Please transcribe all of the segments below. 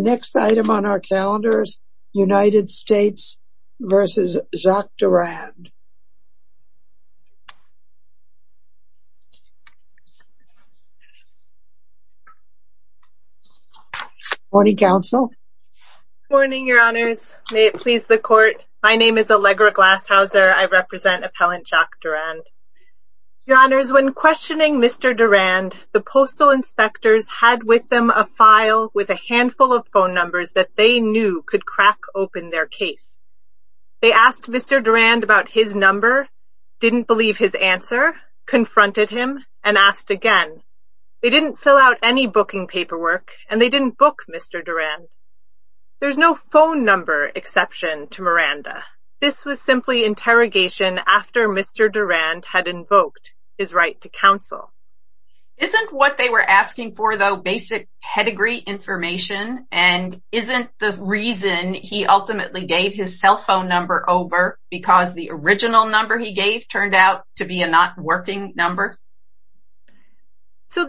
The next item on our calendar is United States v. Jacques Durand. Good morning, Your Honors, may it please the Court, my name is Allegra Glashauser, I represent Appellant Jacques Durand. Your Honors, when questioning Mr. Durand, the Postal Inspectors had with them a file with a handful of phone numbers that they knew could crack open their case. They asked Mr. Durand about his number, didn't believe his answer, confronted him, and asked again. They didn't fill out any booking paperwork, and they didn't book Mr. Durand. There's no phone number exception to Miranda. This was simply interrogation after Mr. Durand had invoked his right to counsel. Isn't what they were asking for, though, basic pedigree information, and isn't the reason he ultimately gave his cell phone number over because the original number he gave turned out to be a not working number? So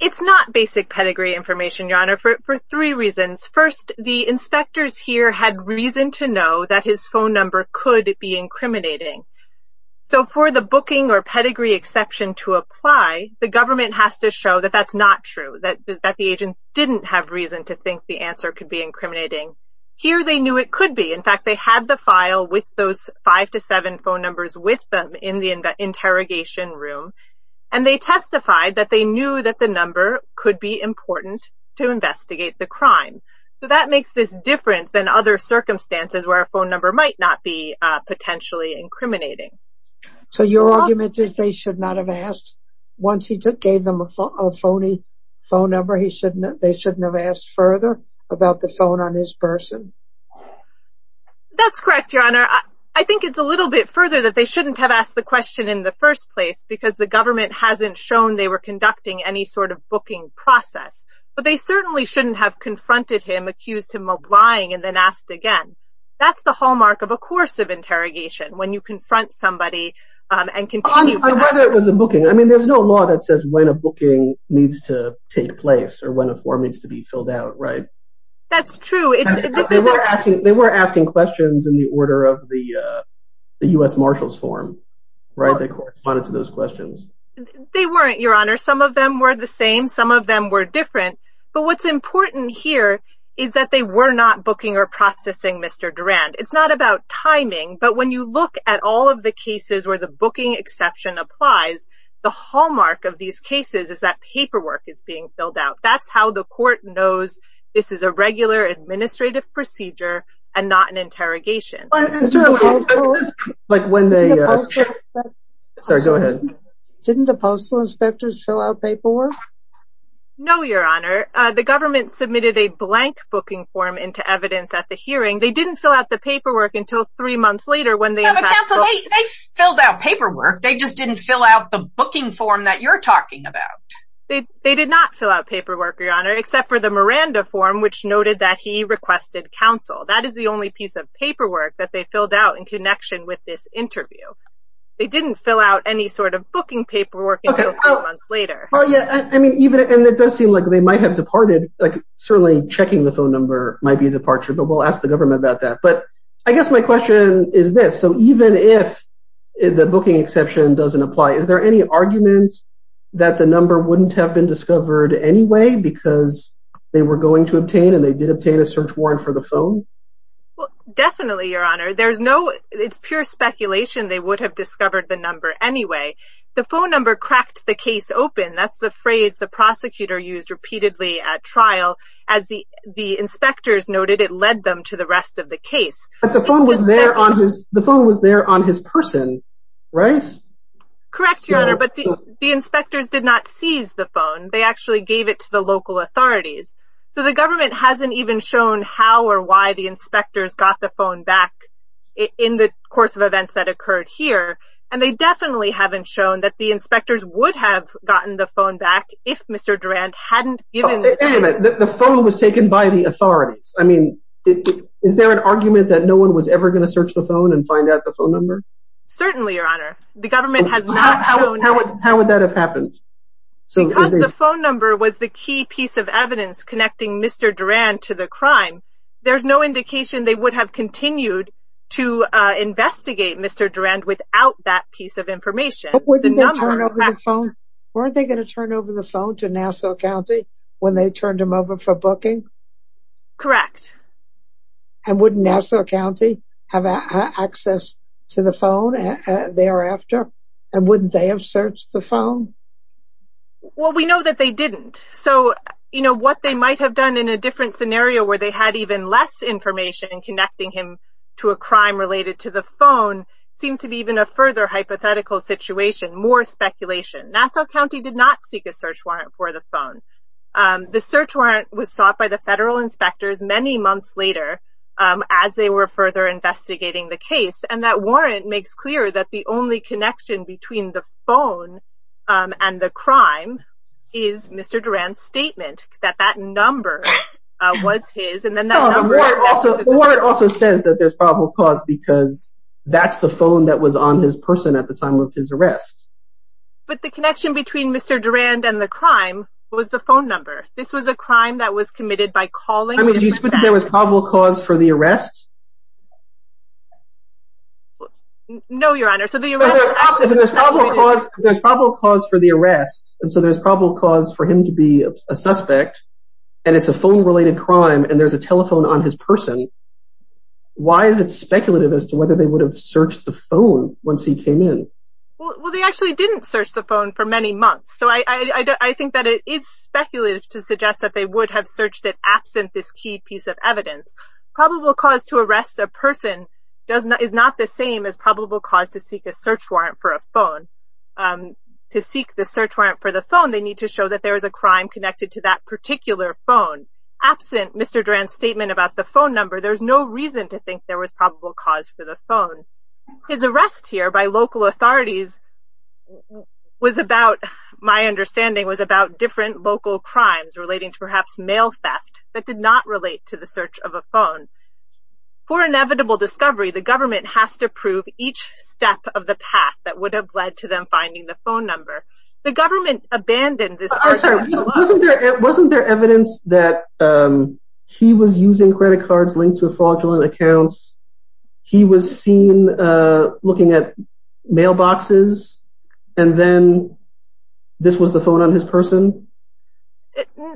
it's not basic pedigree information, Your Honor, for three reasons. First, the inspectors here had reason to know that his phone number could be incriminating. So for the booking or pedigree exception to apply, the government has to show that that's not true, that the agents didn't have reason to think the answer could be incriminating. Here they knew it could be. In fact, they had the file with those five to seven phone numbers with them in the interrogation room, and they testified that they knew that the number could be important to investigate the crime. So that makes this different than other circumstances where a phone number might not be potentially incriminating. So your argument is they should not have asked, once he gave them a phony phone number, they shouldn't have asked further about the phone on his person? That's correct, Your Honor. I think it's a little bit further that they shouldn't have asked the question in the first place because the government hasn't shown they were conducting any sort of booking process. But they certainly shouldn't have confronted him, accused him of lying, and then asked again. That's the hallmark of a course of interrogation, when you confront somebody and continue to ask. On whether it was a booking, I mean, there's no law that says when a booking needs to take place or when a form needs to be filled out, right? That's true. They were asking questions in the order of the U.S. Marshal's form, right? They corresponded to those questions. They weren't, Your Honor. Some of them were the same. Some of them were different. But what's important here is that they were not booking or processing Mr. Durand. It's not about timing. But when you look at all of the cases where the booking exception applies, the hallmark of these cases is that paperwork is being filled out. That's how the court knows this is a regular administrative procedure and not an interrogation. Didn't the postal inspectors fill out paperwork? No, Your Honor. The government submitted a blank booking form into evidence at the hearing. They didn't fill out the paperwork until three months later when they had to… But, Counsel, they filled out paperwork. They just didn't fill out the booking form that you're talking about. They did not fill out paperwork, Your Honor, except for the Miranda form, which noted that he requested counsel. That is the only piece of paperwork that they filled out in connection with this interview. They didn't fill out any sort of booking paperwork until three months later. Well, yeah. I mean, even… And it does seem like they might have departed, like certainly checking the phone number might be a departure. But we'll ask the government about that. But I guess my question is this. So even if the booking exception doesn't apply, is there any argument that the number wouldn't have been discovered anyway because they were going to obtain and they did obtain a search warrant for the phone? Well, definitely, Your Honor. There's no… It's pure speculation. They would have discovered the number anyway. The phone number cracked the case open. That's the phrase the prosecutor used repeatedly at trial. As the inspectors noted, it led them to the rest of the case. But the phone was there on his… the phone was there on his person, right? Correct, Your Honor. But the inspectors did not seize the phone. They actually gave it to the local authorities. So the government hasn't even shown how or why the inspectors got the phone back in the course of events that occurred here. And they definitely haven't shown that the inspectors would have gotten the phone back if Mr. Durand hadn't given… Wait a minute. The phone was taken by the authorities. I mean, is there an argument that no one was ever going to search the phone and find out the phone number? Certainly, Your Honor. The government has not shown… How would that have happened? Because the phone number was the key piece of evidence connecting Mr. Durand to the crime, there's no indication they would have continued to investigate Mr. Durand without that piece of information. But wouldn't they turn over the phone? Weren't they going to turn over the phone to Nassau County when they turned him over for booking? Correct. And wouldn't Nassau County have access to the phone thereafter? And wouldn't they have searched the phone? Well, we know that they didn't. So, you know, what they might have done in a different scenario where they had even less information connecting him to a crime related to the phone seems to be even a further hypothetical situation, more speculation. Nassau County did not seek a search warrant for the phone. The search warrant was sought by the federal inspectors many months later as they were further investigating the case. And that warrant makes clear that the only connection between the phone and the crime is Mr. Durand's statement that that number was his. The warrant also says that there's probable cause because that's the phone that was on his person at the time of his arrest. But the connection between Mr. Durand and the crime was the phone number. This was a crime that was committed by calling into Nassau County. I mean, do you suppose there was probable cause for the arrest? No, Your Honor. There's probable cause for the arrest. And so there's probable cause for him to be a suspect. And it's a phone related crime. And there's a telephone on his person. Why is it speculative as to whether they would have searched the phone once he came in? Well, they actually didn't search the phone for many months. So I think that it is speculative to suggest that they would have searched it absent this key piece of evidence. Probable cause to arrest a person is not the same as probable cause to seek a search warrant for a phone. To seek the search warrant for the phone, they need to show that there was a crime connected to that particular phone. Absent Mr. Durand's statement about the phone number, there's no reason to think there was probable cause for the phone. His arrest here by local authorities was about, my understanding, was about different local crimes relating to perhaps mail theft that did not relate to the search of a phone. For inevitable discovery, the government has to prove each step of the path that would have led to them finding the phone number. The government abandoned this search warrant. Wasn't there evidence that he was using credit cards linked to fraudulent accounts? He was seen looking at mailboxes. And then this was the phone on his person?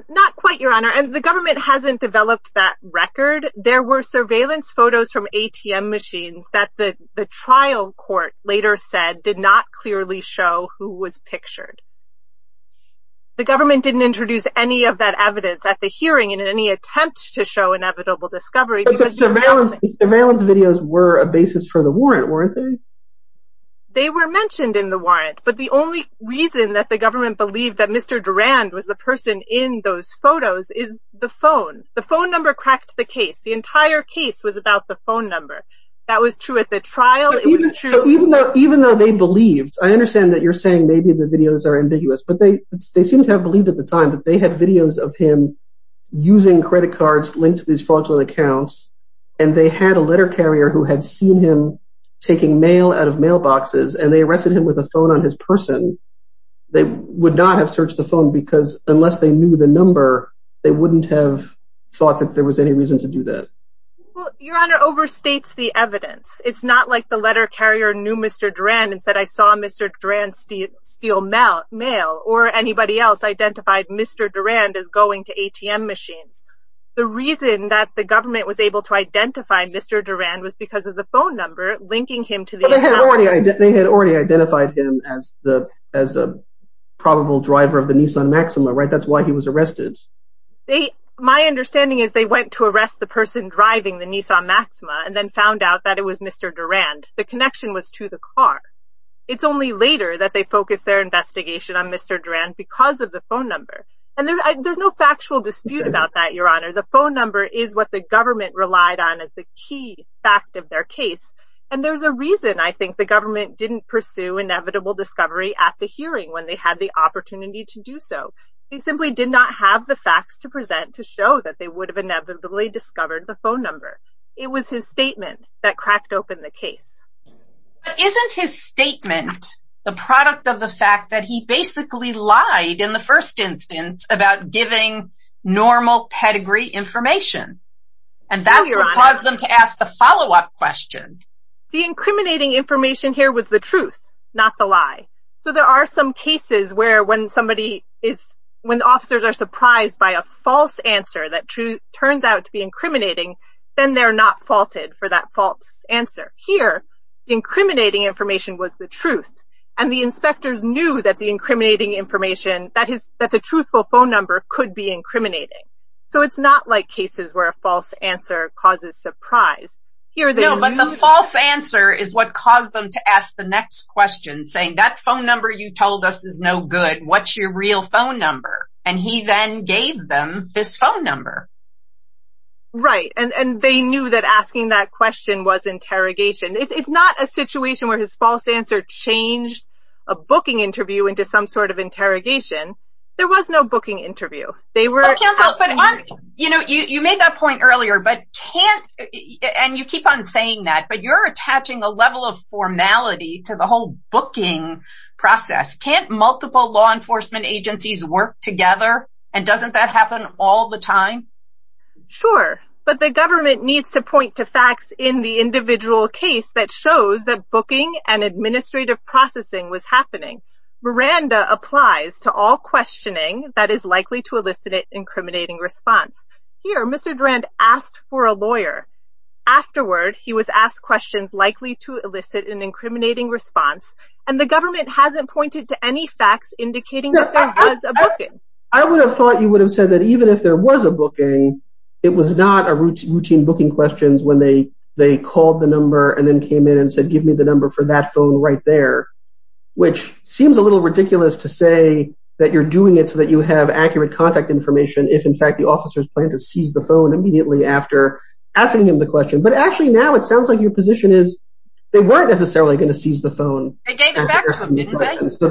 Not quite, Your Honor. And the government hasn't developed that record. There were surveillance photos from ATM machines that the trial court later said did not clearly show who was pictured. The government didn't introduce any of that evidence at the hearing in any attempt to show inevitable discovery. Surveillance videos were a basis for the warrant, weren't they? They were mentioned in the warrant, but the only reason that the government believed that Mr. Durand was the person in those photos is the phone. The phone number cracked the case. The entire case was about the phone number. That was true at the trial. Even though they believed, I understand that you're saying maybe the videos are ambiguous, but they seemed to have believed at the time that they had videos of him using credit cards linked to these fraudulent accounts, and they had a letter carrier who had seen him taking mail out of mailboxes, and they arrested him with a phone on his person, they would not have searched the phone because unless they knew the number, they wouldn't have thought that there was any reason to do that. Well, Your Honor, overstates the evidence. It's not like the letter carrier knew Mr. Durand and said, I saw Mr. Durand steal mail, or anybody else identified Mr. Durand as going to ATM machines. The reason that the government was able to identify Mr. Durand was because of the phone number linking him to the account. They had already identified him as a probable driver of the Nissan Maxima, right? That's why he was arrested. My understanding is they went to arrest the person driving the Nissan Maxima and then found out that it was Mr. Durand. The connection was to the car. It's only later that they focused their investigation on Mr. Durand because of the phone number. There's no factual dispute about that, Your Honor. The phone number is what the government relied on as the key fact of their case, and there's a reason I think the government didn't pursue inevitable discovery at the hearing when they had the opportunity to do so. They simply did not have the facts to present to show that they would have inevitably discovered the phone number. It was his statement that cracked open the case. But isn't his statement the product of the fact that he basically lied in the first instance about giving normal pedigree information? And that's what caused them to ask the follow-up question. The incriminating information here was the truth, not the lie. So there are some cases where when the officers are surprised by a false answer that turns out to be incriminating, then they're not faulted for that false answer. Here, the incriminating information was the truth, and the inspectors knew that the truthful phone number could be incriminating. So it's not like cases where a false answer causes surprise. No, but the false answer is what caused them to ask the next question, saying, that phone number you told us is no good. What's your real phone number? And he then gave them this phone number. Right, and they knew that asking that question was interrogation. It's not a situation where his false answer changed a booking interview into some sort of interrogation. There was no booking interview. You made that point earlier, and you keep on saying that, but you're attaching a level of formality to the whole booking process. Can't multiple law enforcement agencies work together, and doesn't that happen all the time? Sure, but the government needs to point to facts in the individual case that shows that booking and administrative processing was happening. Miranda applies to all questioning that is likely to elicit an incriminating response. Here, Mr. Durand asked for a lawyer. Afterward, he was asked questions likely to elicit an incriminating response, and the government hasn't pointed to any facts indicating that there was a booking. I would have thought you would have said that even if there was a booking, it was not a routine booking questions when they called the number and then came in and said, give me the number for that phone right there, which seems a little ridiculous to say that you're doing it so that you have accurate contact information if, in fact, the officers plan to seize the phone immediately after asking him the question. But actually, now it sounds like your position is they weren't necessarily going to seize the phone. They gave it back to him, didn't they? So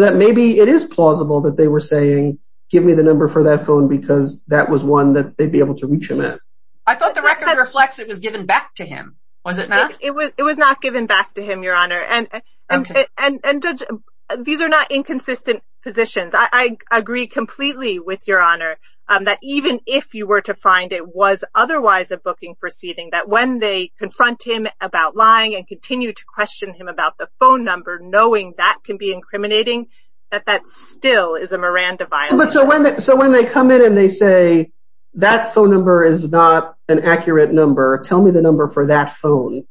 that maybe it is plausible that they were saying, give me the number for that phone because that was one that they'd be able to reach him at. I thought the record reflects it was given back to him. Was it not? It was not given back to him, Your Honor. And Judge, these are not inconsistent positions. I agree completely with Your Honor that even if you were to find it was otherwise a booking proceeding, that when they confront him about lying and continue to question him about the phone number, knowing that can be incriminating, that that still is a Miranda violation. So when they come in and they say, that phone number is not an accurate number, tell me the number for that phone,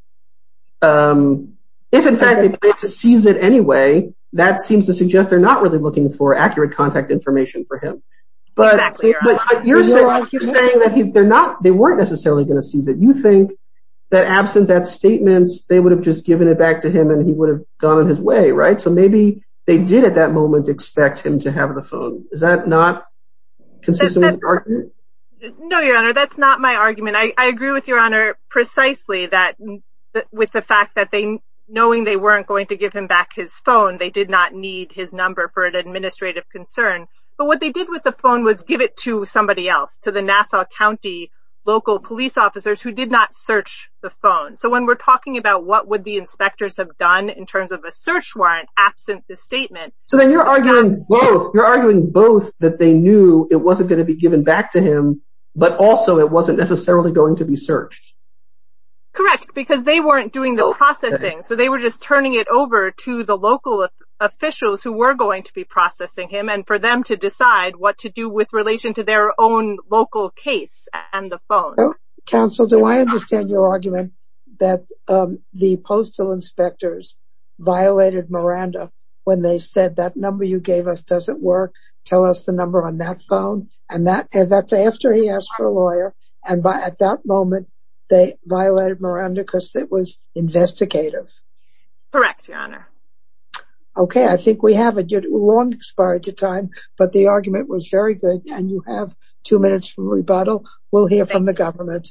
if, in fact, they plan to seize it anyway, that seems to suggest they're not really looking for accurate contact information for him. But you're saying that they weren't necessarily going to seize it. You think that absent that statement, they would have just given it back to him and he would have gone on his way, right? So maybe they did at that moment expect him to have the phone. Is that not consistent with your argument? No, Your Honor. That's not my argument. I agree with Your Honor precisely that with the fact that they, knowing they weren't going to give him back his phone, they did not need his number for an administrative concern. But what they did with the phone was give it to somebody else, to the Nassau County local police officers who did not search the phone. So when we're talking about what would the inspectors have done in terms of a search warrant absent the statement. So then you're arguing both. You're arguing both that they knew it wasn't going to be given back to him. But also it wasn't necessarily going to be searched. Correct. Because they weren't doing the processing. So they were just turning it over to the local officials who were going to be processing him and for them to decide what to do with relation to their own local case and the phone. Counsel, do I understand your argument that the postal inspectors violated Miranda when they said that number you gave us doesn't work. Tell us the number on that phone. And that's after he asked for a lawyer. And at that moment, they violated Miranda because it was investigative. Correct, Your Honor. Okay, I think we have a good long expiry to time. But the argument was very good. And you have two minutes for rebuttal. We'll hear from the government.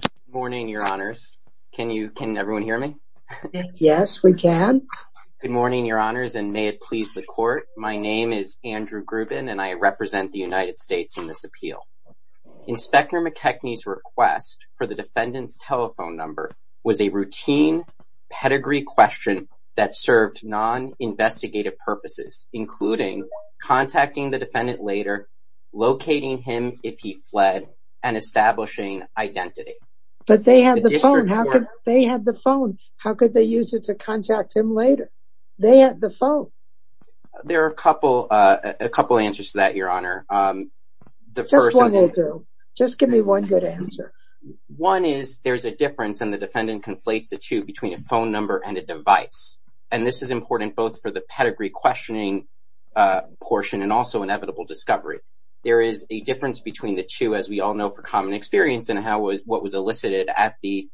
Good morning, Your Honors. Can everyone hear me? Yes, we can. Good morning, Your Honors, and may it please the court. My name is Andrew Grubin, and I represent the United States in this appeal. Inspector McKechnie's request for the defendant's telephone number was a routine pedigree question that served non-investigative purposes, including contacting the defendant later, locating him if he fled, and establishing identity. But they had the phone. They had the phone. How could they use it to contact him later? They had the phone. There are a couple answers to that, Your Honor. Just one will do. Just give me one good answer. One is there's a difference, and the defendant conflates the two, between a phone number and a device. And this is important both for the pedigree questioning portion and also inevitable discovery. There is a difference between the two, as we all know from common experience and what was elicited at the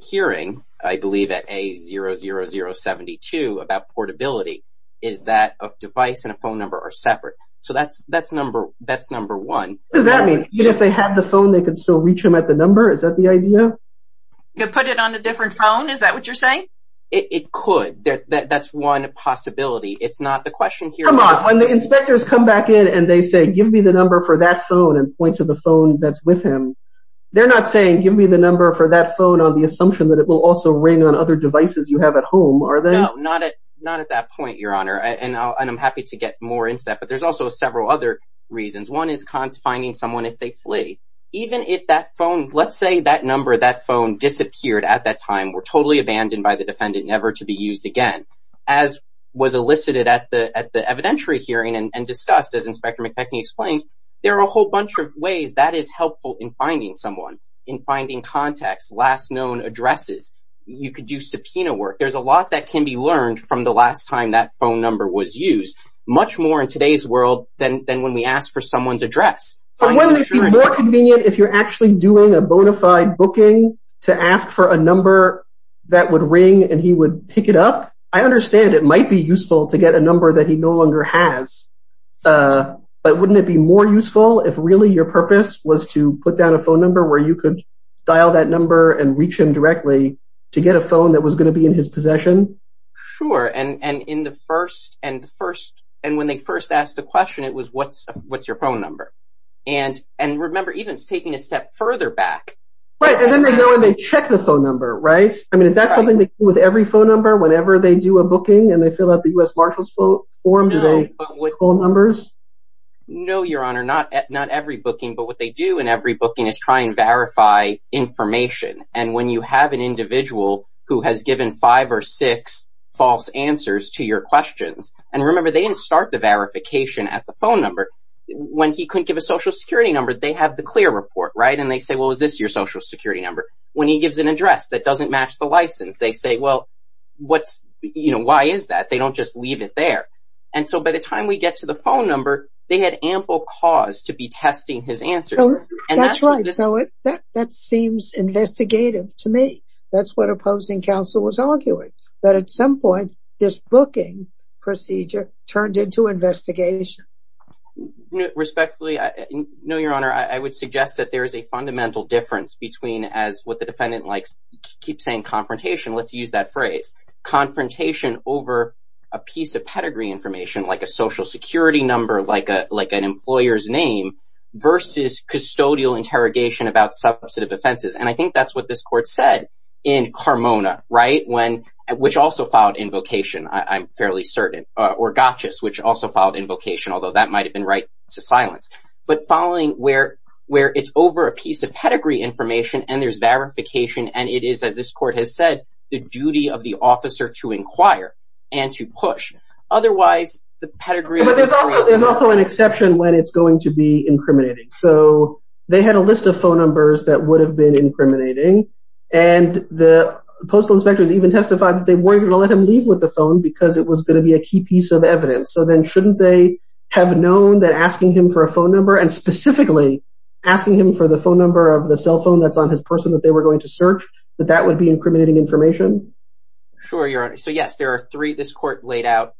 hearing, I believe at A00072, about portability, is that a device and a phone number are separate. So that's number one. What does that mean? Even if they had the phone, they could still reach him at the number? Is that the idea? You could put it on a different phone? Is that what you're saying? It could. That's one possibility. It's not the question here. Come on. When the inspectors come back in and they say, give me the number for that phone and point to the phone that's with him, they're not saying, give me the number for that phone on the assumption that it will also ring on other devices you have at home, are they? No, not at that point, Your Honor. And I'm happy to get more into that. But there's also several other reasons. One is cons finding someone if they flee. Even if that phone, let's say that number, that phone disappeared at that time, were totally abandoned by the defendant, never to be used again, as was elicited at the evidentiary hearing and discussed, as Inspector McKechnie explained, there are a whole bunch of ways that is helpful in finding someone, in finding contacts, last known addresses. You could do subpoena work. There's a lot that can be learned from the last time that phone number was used, much more in today's world than when we ask for someone's address. But wouldn't it be more convenient if you're actually doing a bona fide booking to ask for a number that would ring and he would pick it up? I understand it might be useful to get a number that he no longer has, but wouldn't it be more useful if really your purpose was to put down a phone number where you could dial that number and reach him directly to get a phone that was going to be in his possession? Sure. And when they first asked the question, it was, what's your phone number? And remember, even it's taking a step further back. Right, and then they go and they check the phone number, right? I mean, is that something they do with every phone number? Whenever they do a booking and they fill out the US Marshal's form, do they call numbers? No, Your Honor, not every booking. But what they do in every booking is try and verify information. And when you have an individual who has given five or six false answers to your questions, and remember, they didn't start the verification at the phone number. When he couldn't give a Social Security number, they have the clear report, right? And they say, well, is this your Social Security number? When he gives an address that doesn't match the license, they say, well, why is that? They don't just leave it there. And so by the time we get to the phone number, they had ample cause to be testing his answers. That's right. That seems investigative to me. That's what opposing counsel was arguing, that at some point this booking procedure turned into investigation. Respectfully, no, Your Honor, I would suggest that there is a fundamental difference between, as what the defendant likes to keep saying, confrontation. Let's use that phrase. Confrontation over a piece of pedigree information, like a Social Security number, like an employer's name, versus custodial interrogation about substantive offenses. And I think that's what this court said in Carmona, right? When, which also filed invocation, I'm fairly certain, or Gottschalk, which also filed invocation, although that might have been right to silence. But filing where it's over a piece of pedigree information and there's verification and it is, as this court has said, the duty of the officer to inquire and to push. Otherwise, the pedigree... But there's also an exception when it's going to be incriminating. So they had a list of phone numbers that would have been incriminating. And the postal inspectors even testified that they weren't going to let him leave with the phone because it was going to be a key piece of evidence. So then shouldn't they have known that asking him for a phone number and specifically asking him for the phone number of the cell phone that's on his person that they were going to search, that that would be incriminating information? Sure, Your Honor. So, yes, there are three... This court laid out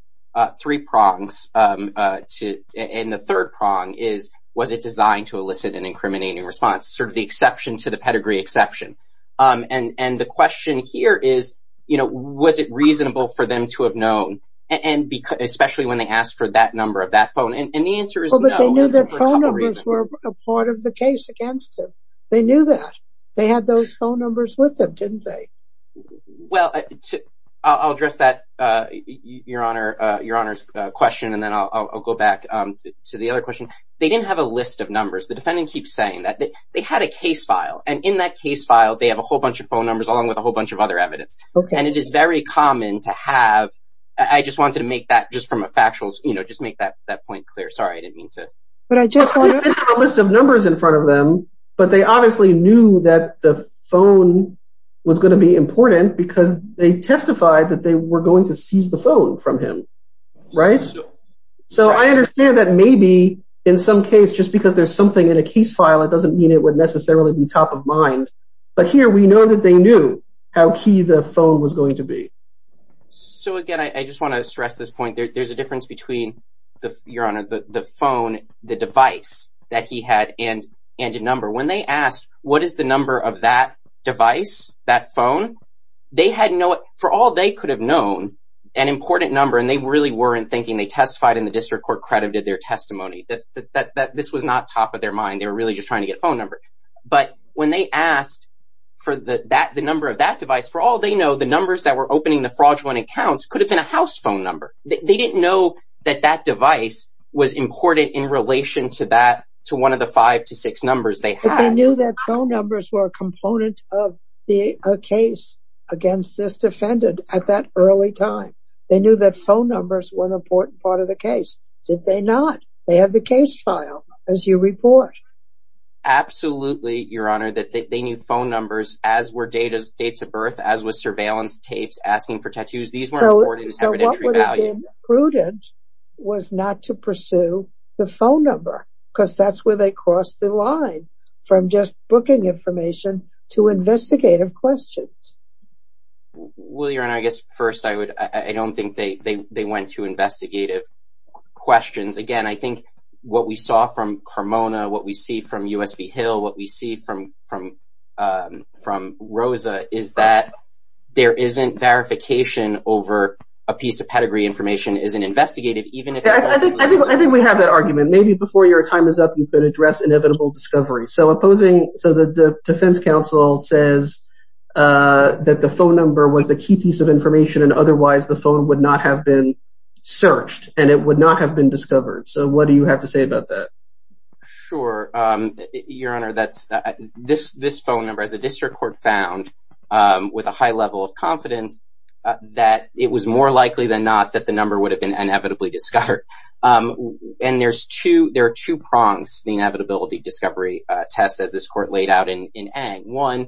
three prongs. And the third prong is, was it designed to elicit an incriminating response? Sort of the exception to the pedigree exception. And the question here is, you know, was it reasonable for them to have known? And especially when they asked for that number of that phone. And the answer is no. But they knew that phone numbers were a part of the case against him. They knew that. They had those phone numbers with them, didn't they? Well, I'll address that, Your Honor's question, and then I'll go back to the other question. They didn't have a list of numbers. The defendant keeps saying that they had a case file. And in that case file, they have a whole bunch of phone numbers along with a whole bunch of other evidence. And it is very common to have... I just wanted to make that just from a factual... You know, just make that point clear. Sorry, I didn't mean to... But I just wanted to... They didn't have a list of numbers in front of them, but they obviously knew that the phone was going to be important because they testified that they were going to seize the phone from him. Right? So I understand that maybe in some case, just because there's something in a case file, it doesn't mean it would necessarily be top of mind. But here, we know that they knew how key the phone was going to be. So again, I just want to stress this point. There's a difference between, Your Honor, the phone, the device that he had and a number. When they asked, what is the number of that device, that phone, they had no... For all they could have known, an important number, and they really weren't thinking, they testified and the district court credited their testimony, that this was not top of their mind. They were really just trying to get a phone number. But when they asked for the number of that device, for all they know, the numbers that were opening the fraudulent accounts could have been a house phone number. They didn't know that that device was important in relation to one of the five to six numbers they had. But they knew that phone numbers were a component of the case against this defendant at that early time. They knew that phone numbers were an important part of the case. Did they not? They have the case file as you report. Absolutely, Your Honor, that they knew phone numbers, as were dates of birth, as was surveillance tapes, asking for tattoos. These weren't important evidentiary value. So what would have been prudent was not to pursue the phone number, because that's where they crossed the line, from just booking information to investigative questions. Well, Your Honor, I guess first I would... I don't think they went to investigative questions. Again, I think what we saw from Carmona, what we see from USB Hill, what we see from Rosa, is that there isn't verification over a piece of pedigree information isn't investigated, even if... I think we have that argument. Maybe before your time is up, you could address inevitable discovery. So opposing... So the defense counsel says that the phone number was the key piece of information, and otherwise the phone would not have been searched, and it would not have been discovered. So what do you have to say about that? Sure, Your Honor, that's... This phone number, as the district court found, with a high level of confidence, that it was more likely than not that the number would have been inevitably discovered. And there are two prongs to the inevitability discovery test, as this court laid out in Eng. One,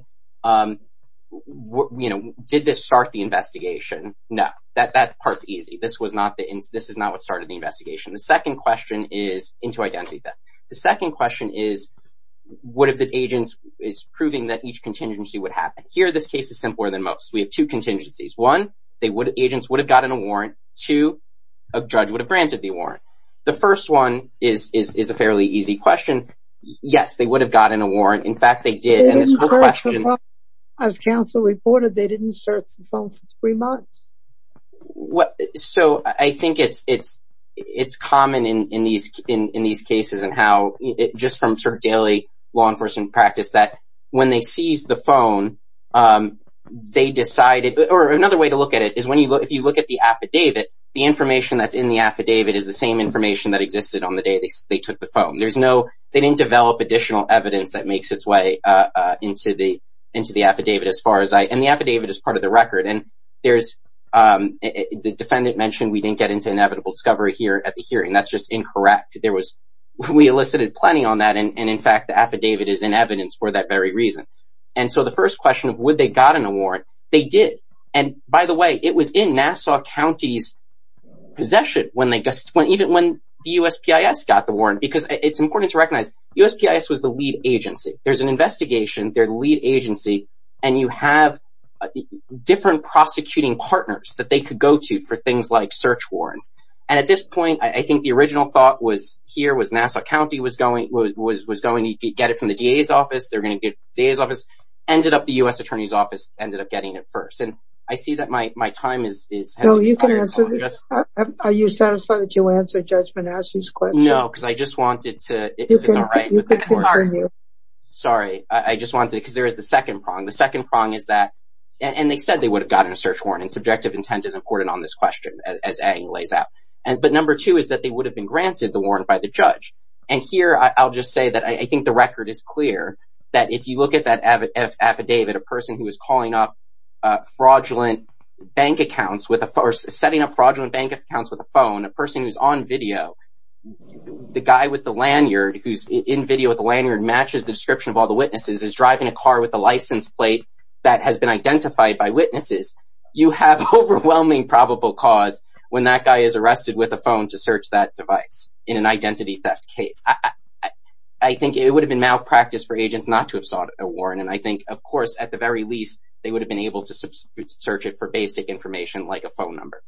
you know, did this start the investigation? No, that part's easy. This was not the... This is not what started the investigation. The second question is... And to identify that. The second question is, what if the agent is proving that each contingency would happen? Here, this case is simpler than most. We have two contingencies. One, agents would have gotten a warrant. Two, a judge would have granted the warrant. The first one is a fairly easy question. Yes, they would have gotten a warrant. In fact, they did, and this court question... As counsel reported, they didn't search the phone for three months. So I think it's common in these cases and how just from sort of daily law enforcement practice that when they seized the phone, they decided... Or another way to look at it is if you look at the affidavit, the information that's in the affidavit is the same information that existed on the day they took the phone. There's no... They didn't develop additional evidence that makes its way into the affidavit, as far as I... And the affidavit is part of the record. And there's... The defendant mentioned we didn't get into inevitable discovery here at the hearing. That's just incorrect. There was... We elicited plenty on that. And in fact, the affidavit is in evidence for that very reason. And so the first question of would they have gotten a warrant, they did. And by the way, it was in Nassau County's possession when they... Even when the USPIS got the warrant, because it's important to recognize USPIS was the lead agency. There's an investigation, they're the lead agency, and you have different prosecuting partners that they could go to for things like search warrants. And at this point, I think the original thought was here was Nassau County was going to get it from the DA's office. They're going to get it from the DA's office. Ended up the US Attorney's office ended up getting it first. And I see that my time is... No, you can answer... Are you satisfied that you answered Judge Manasseh's question? No, because I just wanted to... If it's all right with the court... You can continue. Sorry, I just wanted to... Because there is the second prong. The second prong is that... And they said they would have gotten a search warrant, and subjective intent is important on this question, as A lays out. But number two is that they would have been granted the warrant by the judge. And here, I'll just say that I think the record is clear that if you look at that affidavit, a person who was calling up fraudulent bank accounts with a... Or setting up fraudulent bank accounts with a phone, a person who's on video, the guy with the lanyard, who's in video with the lanyard, matches the description of all the witnesses, is driving a car with a license plate that has been identified by witnesses, you have overwhelming probable cause when that guy is arrested with a phone to search that device in an identity theft case. I think it would have been malpractice for agents not to have sought a warrant. And I think, of course, at the very least, they would have been able to search it for basic information, like a phone number.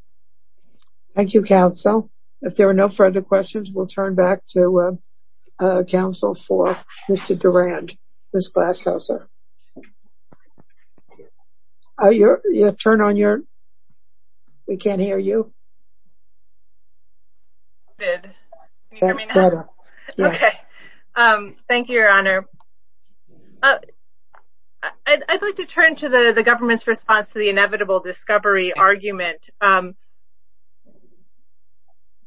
Thank you, counsel. If there are no further questions, we'll turn back to counsel for Mr. Durand, Ms. Glaskowska. Oh, you're... You have to turn on your... We can't hear you. Good. Can you hear me now? Okay. Thank you, Your Honor. I'd like to turn to the government's response to the inevitable discovery argument.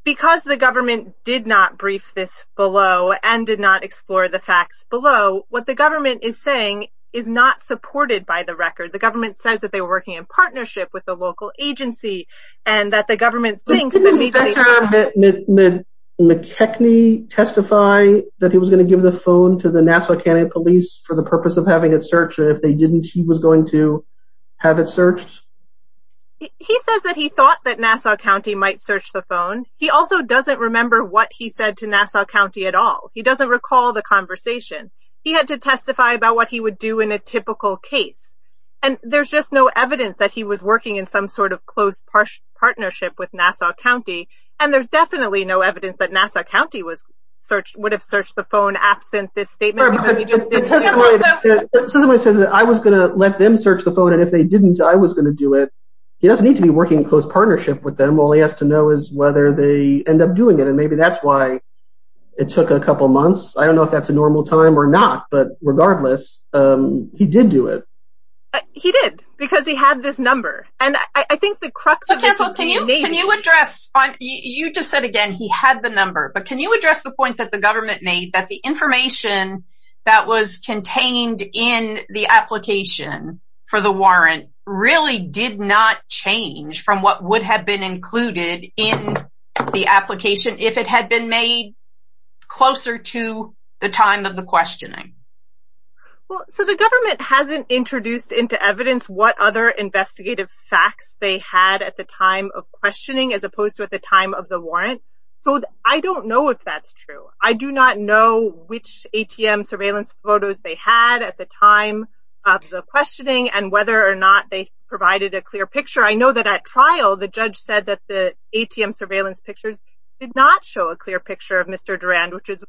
Because the government did not brief this below and did not explore the facts below, what the government is saying is not supported by the record. The government says that they were working in partnership with the local agency and that the government thinks that... Did Mr. McKechnie testify that he was going to give the phone to the Nassau County Police for the purpose of having it searched? And if they didn't, he was going to have it searched? He says that he thought that Nassau County might search the phone. He also doesn't remember what he said to Nassau County at all. He doesn't recall the conversation. He had to testify about what he would do in a typical case. And there's just no evidence that he was working in some sort of close partnership with Nassau County. And there's definitely no evidence that Nassau County would have searched the phone absent this statement because he just didn't... The testimony says that I was going to let them search the phone, and if they didn't, I was going to do it. He doesn't need to be working in close partnership with them. All he has to know is whether they end up doing it, and maybe that's why it took a couple months. I don't know if that's a normal time or not, but regardless, he did do it. He did because he had this number. And I think the crux of this is... Can you address... You just said, again, he had the number, but can you address the point that the government made that the information that was contained in the application for the warrant really did not change from what would have been included in the application if it had been made closer to the time of the questioning? Well, so the government hasn't introduced into evidence what other investigative facts they had at the time of questioning as opposed to at the time of the warrant, so I don't know if that's true. I do not know which ATM surveillance photos they had at the time of the questioning and whether or not they provided a clear picture. I know that at trial, the judge said that the ATM surveillance pictures did not show a clear picture of Mr. Durand, which is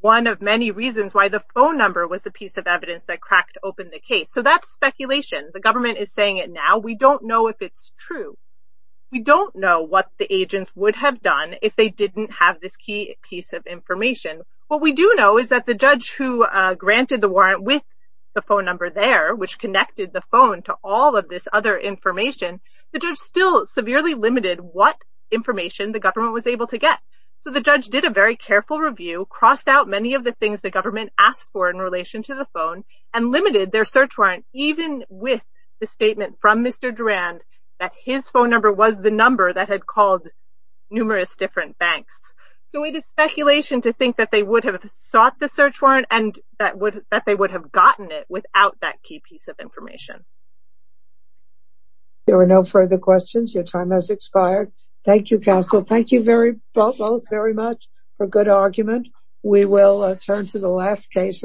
one of many reasons why the phone number was the piece of evidence that cracked open the case. So that's speculation. The government is saying it now. We don't know if it's true. We don't know what the agents would have done if they didn't have this key piece of information. What we do know is that the judge who granted the warrant with the phone number there, which connected the phone to all of this other information, the judge still severely limited what information the government was able to get. So the judge did a very careful review, crossed out many of the things the government asked for in relation to the phone, and limited their search warrant even with the statement from Mr. Durand that his phone number was the number that had called numerous different banks. So it is speculation to think that they would have sought the search warrant and that they would have gotten it without that key piece of information. There are no further questions. Your time has expired. Thank you, counsel. Thank you both very much for good argument. We will turn to the last case.